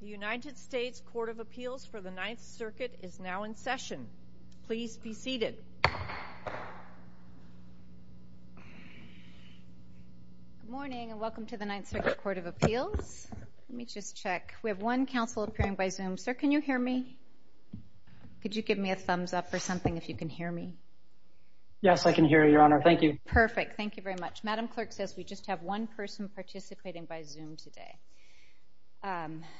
United States Court of Appeals for the Ninth Circuit is now in session. Please be seated. Good morning and welcome to the Ninth Circuit Court of Appeals. Let me just check. We have one counsel appearing by Zoom. Sir, can you hear me? Could you give me a thumbs up or something if you can hear me? Yes, I can hear you, Your Honor. Thank you. Perfect. Thank you very much. Madam Clerk says we just have one person participating by Zoom today.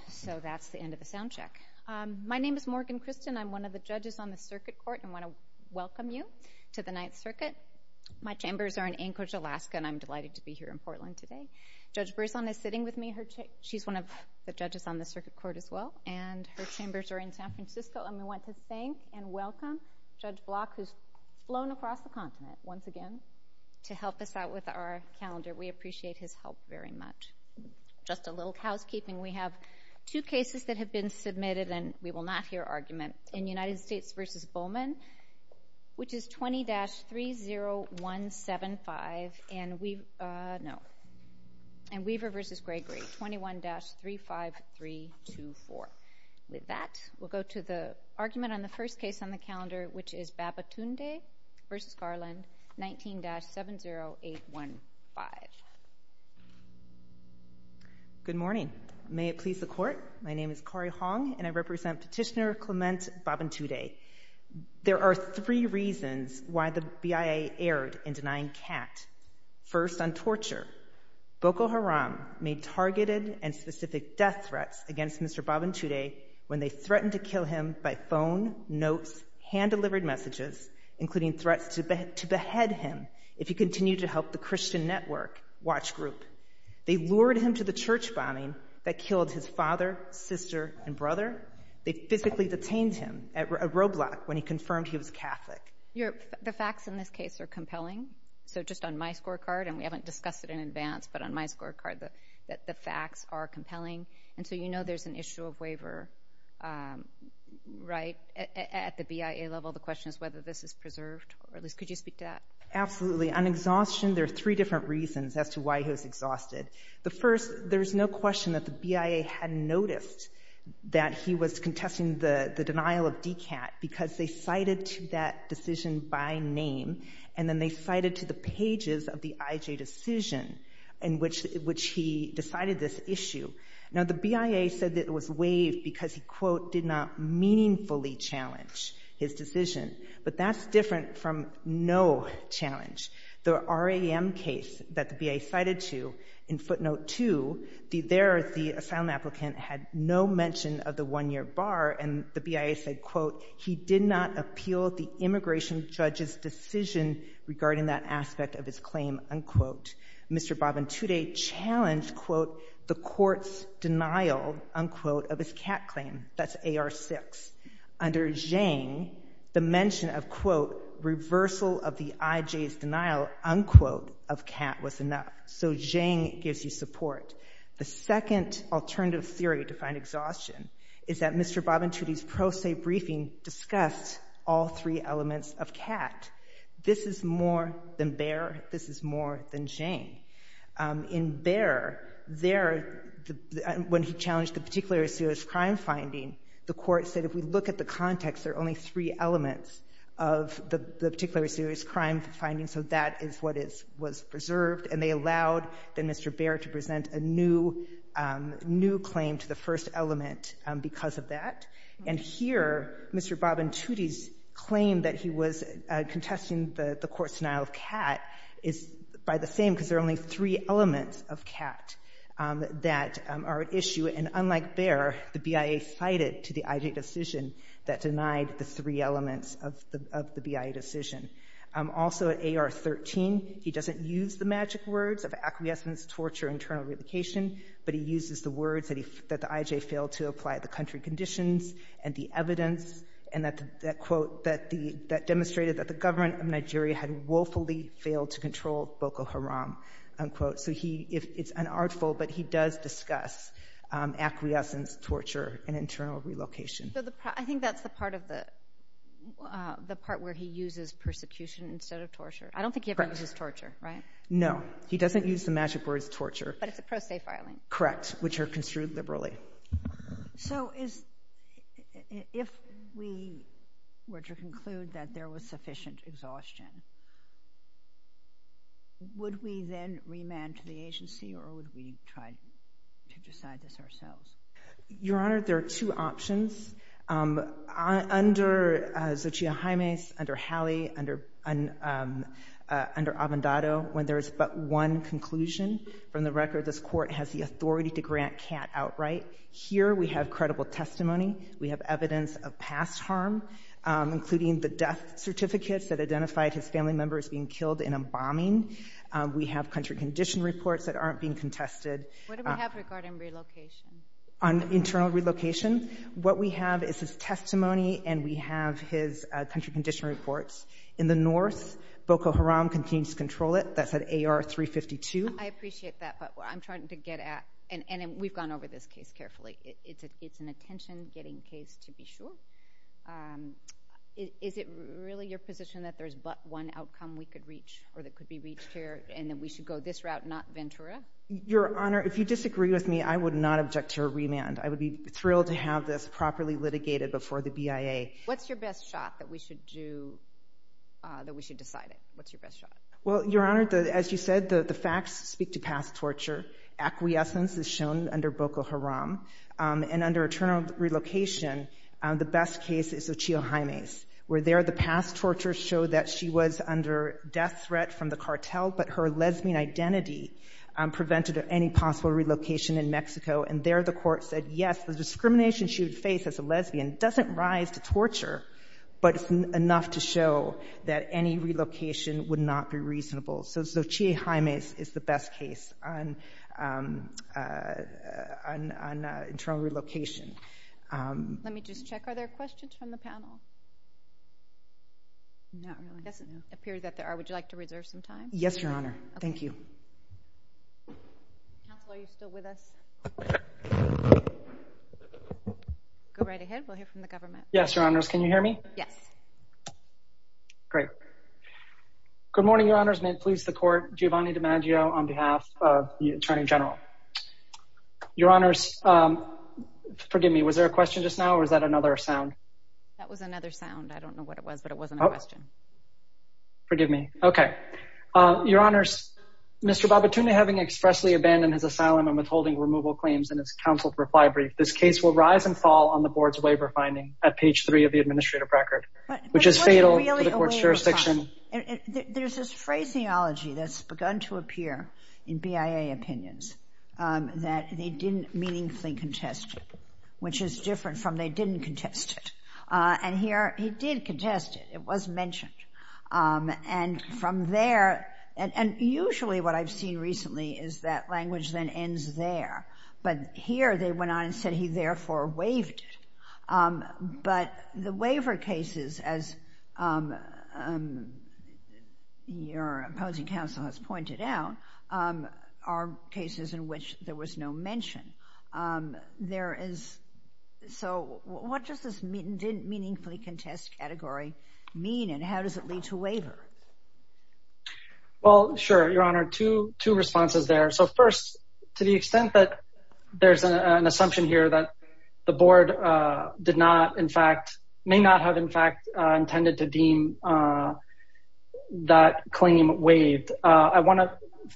So that's the end of the sound check. My name is Morgan Christen. I'm one of the judges on the circuit court and I want to welcome you to the Ninth Circuit. My chambers are in Anchorage, Alaska and I'm delighted to be here in Portland today. Judge Berzon is sitting with me. She's one of the judges on the circuit court as well. And her chambers are in San Francisco and we want to thank and welcome Judge Block who's flown across the continent once again to help us out with our calendar. We appreciate his help very much. Just a little housekeeping. We have two cases that have been submitted and we will not hear argument. In United States v. Bowman, which is 20-30175 and Weaver v. Gregory, 21-35324. With that, we'll go to the argument on the first case on the calendar, which is Babatunde v. Garland, 19-70815. Good morning. May it please the court, my name is Corrie Hong and I represent Petitioner Clement Babantude. There are three reasons why the BIA erred in denying Kat. First, on torture. Boko Haram made targeted and specific death threats against Mr. Babantude when they threatened to kill him by phone, notes, hand-delivered messages, including threats to behead him if he continued to help the Christian network, watch group. They lured him to the church bombing that killed his father, sister, and brother. They physically detained him at Roblox when he confirmed he was Catholic. The facts in this case are compelling. So just on my scorecard, and we haven't discussed it in advance, but on my scorecard, the facts are compelling. And so you know there's an issue of waiver, right, at the BIA level. The question is whether this is preserved. Could you speak to that? Absolutely. On exhaustion, there are three different reasons as to why he was exhausted. The first, there's no question that the BIA had noticed that he was contesting the denial of DCAT because they cited to that decision by name, and then they cited to the pages of the IJ decision in which he decided this issue. Now the BIA said that it was waived because he, quote, did not meaningfully challenge his decision. But that's different from no challenge. The RAM case that the BIA cited to in footnote two, there the asylum applicant had no mention of the one-year bar, and the BIA said, quote, he did not appeal the immigration judge's decision regarding that aspect of his claim, unquote. Mr. Babintude challenged, quote, the court's denial, unquote, of his CAT claim. That's AR6. Under Zhang, the mention of, quote, reversal of the IJ's denial, unquote, of CAT was enough. So Zhang gives you support. The second alternative theory to find exhaustion is that Mr. Babintude's pro se briefing discussed all three elements of CAT. This is more than Baer. This is more than Zhang. In Baer, there, when he challenged the particular serious crime finding, the court said, if we look at the context, there are only three elements of the particular serious crime finding, so that is what was preserved. And they allowed then Mr. Baer to present a new claim to the first element because of that. And here, Mr. Babintude's claim that he was contesting the court's denial of CAT is by the same because there are only three elements of CAT that are at issue. And unlike Baer, the BIA cited to the IJ decision that denied the three elements of the BIA decision. Also, AR13, he doesn't use the magic words of acquiescence, torture, internal relocation, but he uses the words that the IJ failed to apply to country conditions and the evidence, and that, quote, that demonstrated that the government of Nigeria had woefully failed to control Boko Haram, unquote. So he, it's unartful, but he does discuss acquiescence, torture, and internal relocation. So the, I think that's the part of the, the part where he uses persecution instead of torture. I don't think he ever uses torture, right? No, he doesn't use the magic words torture. But it's a pro se filing. Correct, which are construed liberally. So is, if we were to conclude that there was sufficient exhaustion, would we then remand to the agency or would we try to decide this ourselves? Your Honor, there are two options. Under Xochitl Jaime's, under Halley, under, under Avendado, when there is but one conclusion from the record, this court has the authority to grant Kat outright. Here we have credible testimony. We have evidence of past harm, including the death certificates that identified his family members being killed in a bombing. We have country condition reports that aren't being contested. What do we have regarding relocation? On internal relocation, what we have is his testimony and we have his country condition reports. In the north, Boko Haram continues to control it. That's at AR 352. I appreciate that, but I'm trying to get at, and we've gone over this case carefully. It's an attention-getting case, to be sure. Is it really your position that there's but one outcome we could reach or that could be reached here and that we should go this route, not Ventura? Your Honor, if you disagree with me, I would not object to a remand. I would be thrilled to have this properly litigated before the BIA. What's your best shot that we should do, that we should decide on? What's your best shot? Well, Your Honor, as you said, the facts speak to past torture. Acquiescence is shown under Boko Haram, and under internal relocation, the best case is Xochitl Jaime's. Where there, the past torture showed that she was under death threat from the cartel, but her lesbian identity prevented any possible relocation in Mexico. And there, the court said, yes, the discrimination she would face as a lesbian doesn't rise to torture, but it's enough to show that any relocation would not be reasonable. So Xochitl Jaime's is the best case on internal relocation. Let me just check. Are there questions from the panel? No, it doesn't appear that there are. Would you like to reserve some time? Yes, Your Honor. Thank you. Counsel, are you still with us? Go right ahead. We'll hear from the government. Yes, Your Honors. Can you hear me? Yes. Great. Good morning, Your Honors. May it please the Court. Giovanni DiMaggio on behalf of the Attorney General. Your Honors, forgive me, was there a question just now, or was that another sound? That was another sound. I don't know what it was, but it wasn't a question. Forgive me. Okay. Your Honors, Mr. Babatunde, having expressly abandoned his asylum and withholding removal claims in his counsel's reply brief, this case will rise and fall on the Board's waiver finding at page three of the administrative record, which is fatal to the Court's jurisdiction. There's this phraseology that's begun to appear in BIA opinions that they didn't meaningfully contest it, which is different from they didn't contest it. And here he did contest it. It was mentioned. And from there, and usually what I've seen recently is that language then ends there. But here they went on and said he therefore waived it. But the waiver cases, as your opposing counsel has pointed out, are cases in which there was no mention. So what does this didn't meaningfully contest category mean, and how does it lead to waiver? Well, sure, Your Honor, two responses there. So first, to the extent that there's an assumption here that the Board did not, in fact, may not have, in fact, intended to deem that claim waived, I want to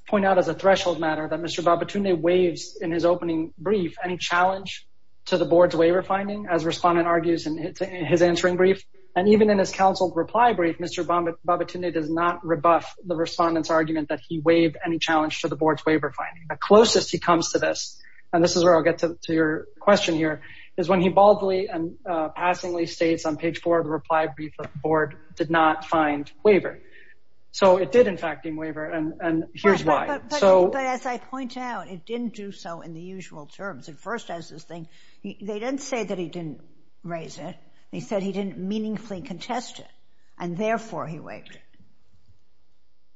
point out as a threshold matter that Mr. Babatunde waives in his opening brief any challenge to the Board's waiver finding, as Respondent argues in his answering brief. And even in his counsel reply brief, Mr. Babatunde does not rebuff the Respondent's argument that he waived any challenge to the Board's waiver finding. The closest he comes to this, and this is where I'll get to your question here, is when he baldly and passingly states on page four of the reply brief that the Board did not find waiver. So it did, in fact, deem waiver, and here's why. But as I point out, it didn't do so in the usual terms. They didn't say that he didn't raise it. They said he didn't meaningfully contest it, and therefore he waived it.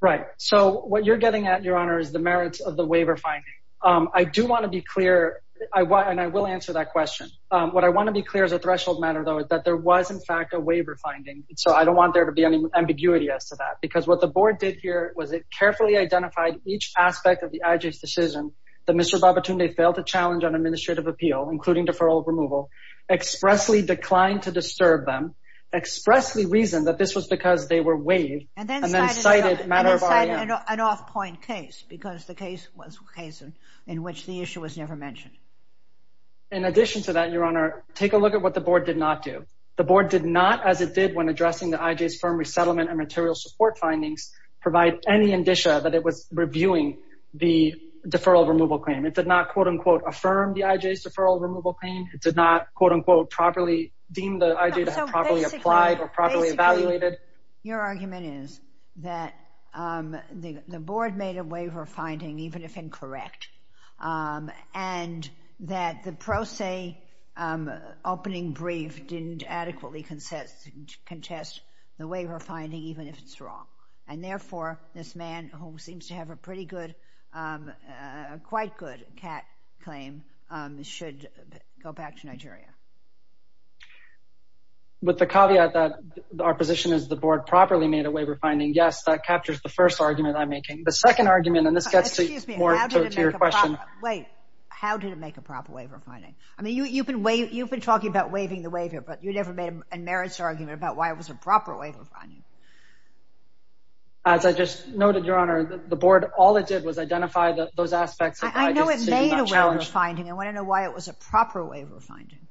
Right. So what you're getting at, Your Honor, is the merits of the waiver finding. I do want to be clear, and I will answer that question. What I want to be clear as a threshold matter, though, is that there was, in fact, a waiver finding. So I don't want there to be any ambiguity as to that, because what the Board did here was it carefully identified each aspect of the IJ's decision that Mr. Babatunde failed to challenge on administrative appeal, including deferral removal, expressly declined to disturb them, expressly reasoned that this was because they were waived, and then cited matter of IRM. And then cited an off-point case, because the case was a case in which the issue was never mentioned. In addition to that, Your Honor, take a look at what the Board did not do. The Board did not, as it did when addressing the IJ's firm resettlement and material support findings, provide any indicia that it was reviewing the deferral removal claim. It did not, quote-unquote, affirm the IJ's deferral removal claim. It did not, quote-unquote, properly deem the IJ to have properly applied or properly evaluated. Your argument is that the Board made a waiver finding, even if incorrect, and that the pro se opening brief didn't adequately contest the waiver finding, even if it's wrong. And therefore, this man, who seems to have a pretty good, quite good CAT claim, should go back to Nigeria. With the caveat that our position is the Board properly made a waiver finding, yes, The second argument, and this gets more to your question. Wait. How did it make a proper waiver finding? I mean, you've been talking about waiving the waiver, but you never made a merits argument about why it was a proper waiver finding. As I just noted, Your Honor, the Board, all it did was identify those aspects of the IJ's decision. I know it made a waiver finding. I want to know why it was a proper waiver finding.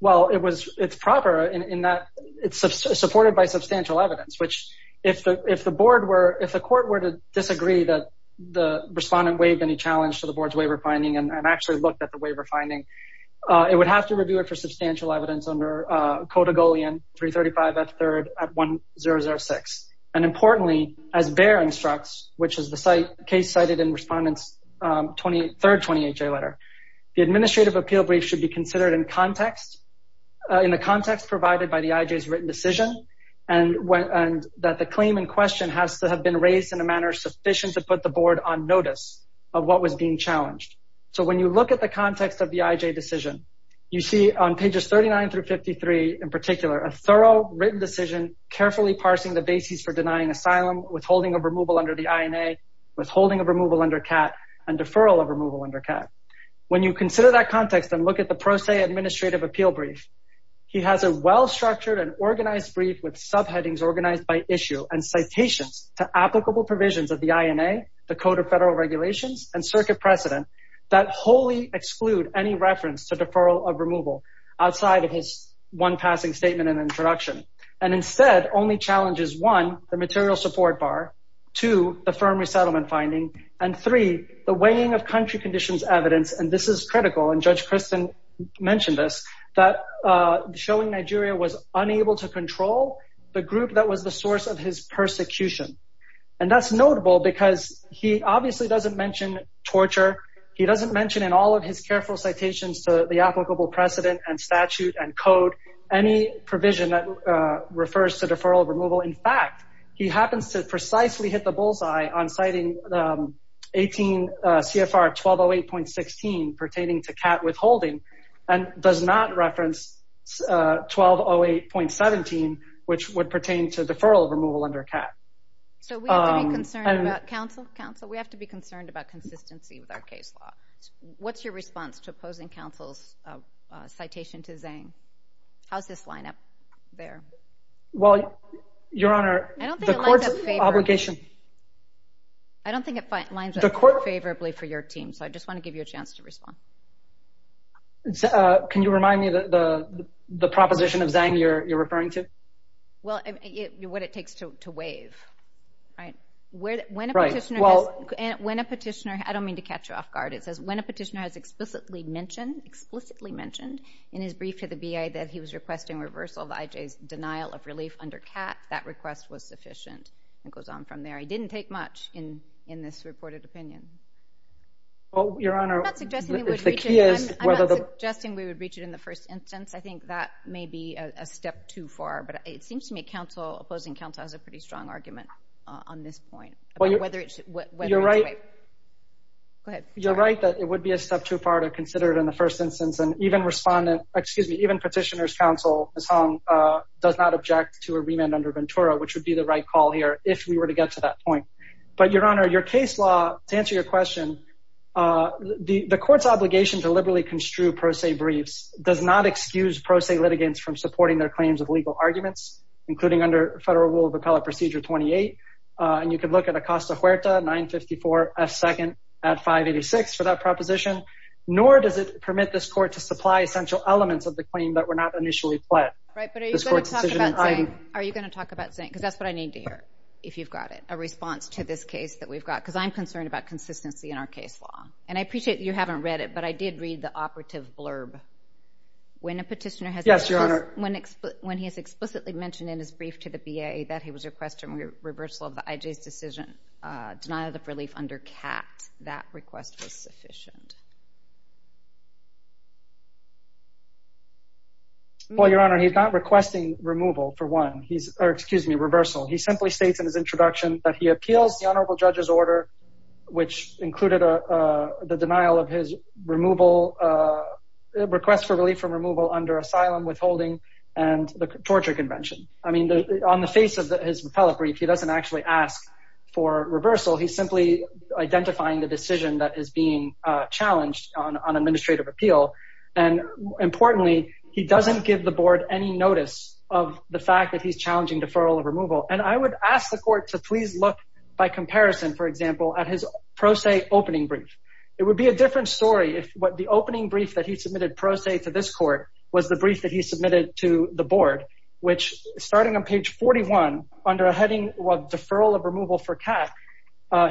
Well, it's proper in that it's supported by substantial evidence, which if the Court were to disagree that the respondent waived any challenge to the Board's waiver finding and actually looked at the waiver finding, it would have to review it for substantial evidence under Code Agolean 335F3 at 1006. And importantly, as Bayer instructs, which is the case cited in Respondent's third 28-J letter, the administrative appeal brief should be considered in the context provided by the IJ's written decision and that the claim in question has to have been raised in a manner sufficient to put the Board on notice of what was being challenged. So when you look at the context of the IJ decision, you see on pages 39 through 53 in particular, a thorough written decision carefully parsing the basis for denying asylum, withholding of removal under the INA, withholding of removal under CAT, and deferral of removal under CAT. When you consider that context and look at the Pro Se Administrative Appeal Brief, he has a well-structured and organized brief with subheadings organized by issue and citations to applicable provisions of the INA, the Code of Federal Regulations, and circuit precedent that wholly exclude any reference to deferral of removal outside of his one passing statement and introduction. And instead, only challenges one, the material support bar, two, the firm resettlement finding, and three, the weighing of country conditions evidence, and this is critical, and Judge Kristen mentioned this, that showing Nigeria was unable to control the group that was the source of his persecution. And that's notable because he obviously doesn't mention torture. He doesn't mention in all of his careful citations to the applicable precedent and statute and code any provision that refers to deferral of removal. In fact, he happens to precisely hit the bullseye on citing 18 CFR 1208.16 pertaining to CAT withholding and does not reference 1208.17, which would pertain to deferral of removal under CAT. So we have to be concerned about, counsel, counsel, we have to be concerned about consistency with our case law. What's your response to opposing counsel's citation to Zang? How's this line up there? Well, Your Honor, the court's obligation. I don't think it lines up favorably for your team, so I just want to give you a chance to respond. Can you remind me the proposition of Zang you're referring to? Well, what it takes to waive, right? When a petitioner has, I don't mean to catch you off guard, it says when a petitioner has explicitly mentioned, in his brief to the BIA, that he was requesting reversal of the IJ's denial of relief under CAT, that request was sufficient. It goes on from there. It didn't take much in this reported opinion. Well, Your Honor. I'm not suggesting we would reach it in the first instance. I think that may be a step too far, but it seems to me opposing counsel has a pretty strong argument on this point. You're right that it would be a step too far to consider it in the first instance and even petitioner's counsel, Zang, does not object to a remand under Ventura, which would be the right call here if we were to get to that point. But, Your Honor, your case law, to answer your question, the court's obligation to liberally construe pro se briefs does not excuse pro se litigants from supporting their claims of legal arguments, including under federal rule of appellate procedure 28, and you could look at Acosta Huerta, 954F2nd at 586 for that proposition, nor does it permit this court to supply essential elements of the claim that were not initially pledged. Right, but are you going to talk about Zang? Are you going to talk about Zang? Because that's what I need to hear, if you've got it, a response to this case that we've got, because I'm concerned about consistency in our case law. And I appreciate you haven't read it, but I did read the operative blurb. Yes, Your Honor. When a petitioner has explicitly mentioned in his brief to the BA that he was requesting reversal of the IJ's decision, denial of relief under CAT, that request was sufficient? Well, Your Honor, he's not requesting removal, for one, or excuse me, reversal. He simply states in his introduction that he appeals the honorable judge's order, which included the denial of his request for relief from removal under asylum withholding and the torture convention. I mean, on the face of his appellate brief, he doesn't actually ask for reversal. He's simply identifying the decision that is being challenged on administrative appeal. And importantly, he doesn't give the board any notice of the fact that he's challenging deferral of removal. And I would ask the court to please look, by comparison, for example, at his pro se opening brief. It would be a different story if the opening brief that he submitted pro se to this court was the brief that he submitted to the board, which, starting on page 41, under a heading of deferral of removal for CAT,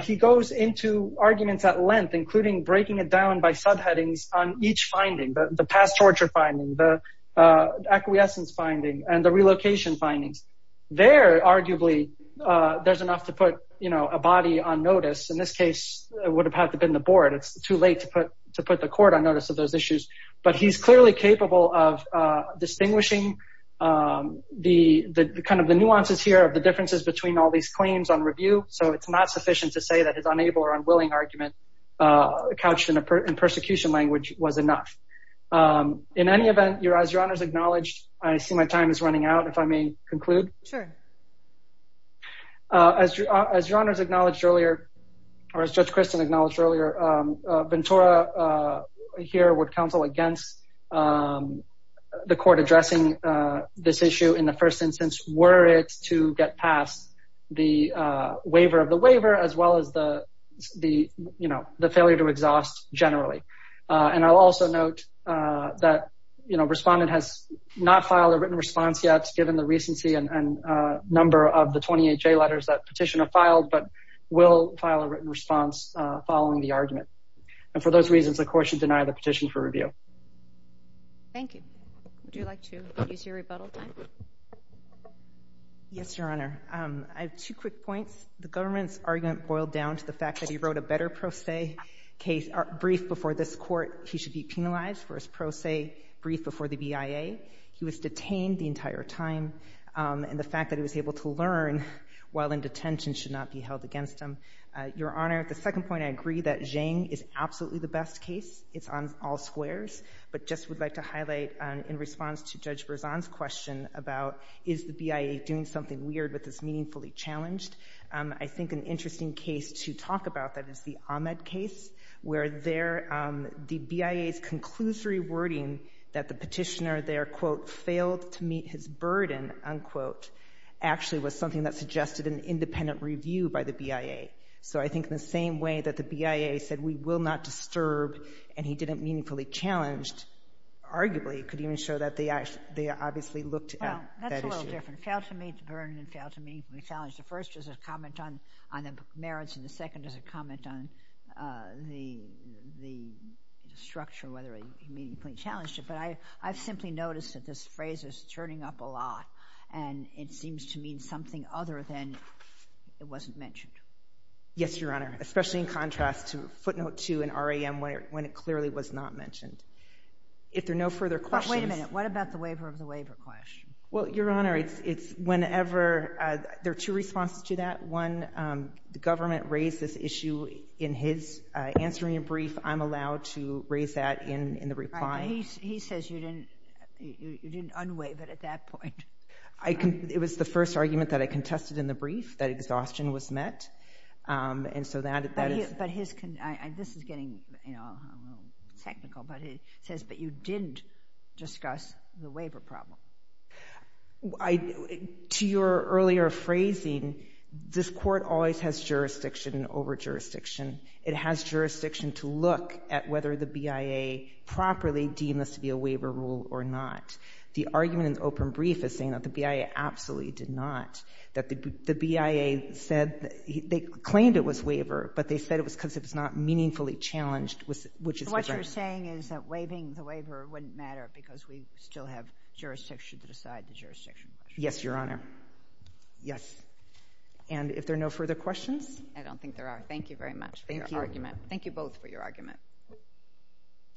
he goes into arguments at length, including breaking it down by subheadings on each finding, the past torture finding, the acquiescence finding, and the relocation findings. There, arguably, there's enough to put a body on notice. In this case, it would have had to have been the board. It's too late to put the court on notice of those issues. But he's clearly capable of distinguishing the nuances here of the differences between all these claims on review. So it's not sufficient to say that his unable or unwilling argument, couched in persecution language, was enough. In any event, as Your Honors acknowledged, I see my time is running out, if I may conclude. Sure. As Your Honors acknowledged earlier, or as Judge Christin acknowledged earlier, Ventura here would counsel against the court addressing this issue in the first instance, were it to get past the waiver of the waiver, as well as the failure to exhaust generally. And I'll also note that, you know, respondent has not filed a written response yet, given the recency and number of the 28J letters that petitioner filed, but will file a written response following the argument. And for those reasons, the court should deny the petition for review. Thank you. Would you like to use your rebuttal time? Yes, Your Honor. I have two quick points. The government's argument boiled down to the fact that he wrote a better pro se brief before this court. He should be penalized for his pro se brief before the BIA. He was detained the entire time. And the fact that he was able to learn while in detention should not be held against him. Your Honor, the second point, I agree that Zhang is absolutely the best case. It's on all squares. But just would like to highlight, in response to Judge Berzon's question about is the BIA doing something weird with this meaningfully challenged, I think an interesting case to talk about that is the Ahmed case, where the BIA's conclusory wording that the petitioner there, quote, failed to meet his burden, unquote, actually was something that suggested an independent review by the BIA. So I think in the same way that the BIA said, we will not disturb, and he didn't meaningfully challenged, arguably it could even show that they obviously looked at that issue. Well, that's a little different. Failed to meet the burden and failed to meaningfully challenge. The first is a comment on the merits, and the second is a comment on the structure, whether he meaningfully challenged it. But I've simply noticed that this phrase is turning up a lot, and it seems to mean something other than it wasn't mentioned. Yes, Your Honor, especially in contrast to footnote 2 and RAM, when it clearly was not mentioned. If there are no further questions— But wait a minute. What about the waiver of the waiver question? Well, Your Honor, it's whenever—there are two responses to that. One, the government raised this issue in his answering a brief. I'm allowed to raise that in the reply. He says you didn't unwaive it at that point. It was the first argument that I contested in the brief, that exhaustion was met, and so that is— But his—this is getting technical, but he says, but you didn't discuss the waiver problem. To your earlier phrasing, this court always has jurisdiction over jurisdiction. It has jurisdiction to look at whether the BIA properly deemed this to be a waiver rule or not. The argument in the open brief is saying that the BIA absolutely did not, that the BIA said—they claimed it was waiver, but they said it was because it was not meaningfully challenged, which is correct. So what you're saying is that waiving the waiver wouldn't matter because we still have jurisdiction to decide the jurisdiction? Yes, Your Honor. Yes. And if there are no further questions? I don't think there are. Thank you very much for your argument. Thank you. Thank you both for your argument.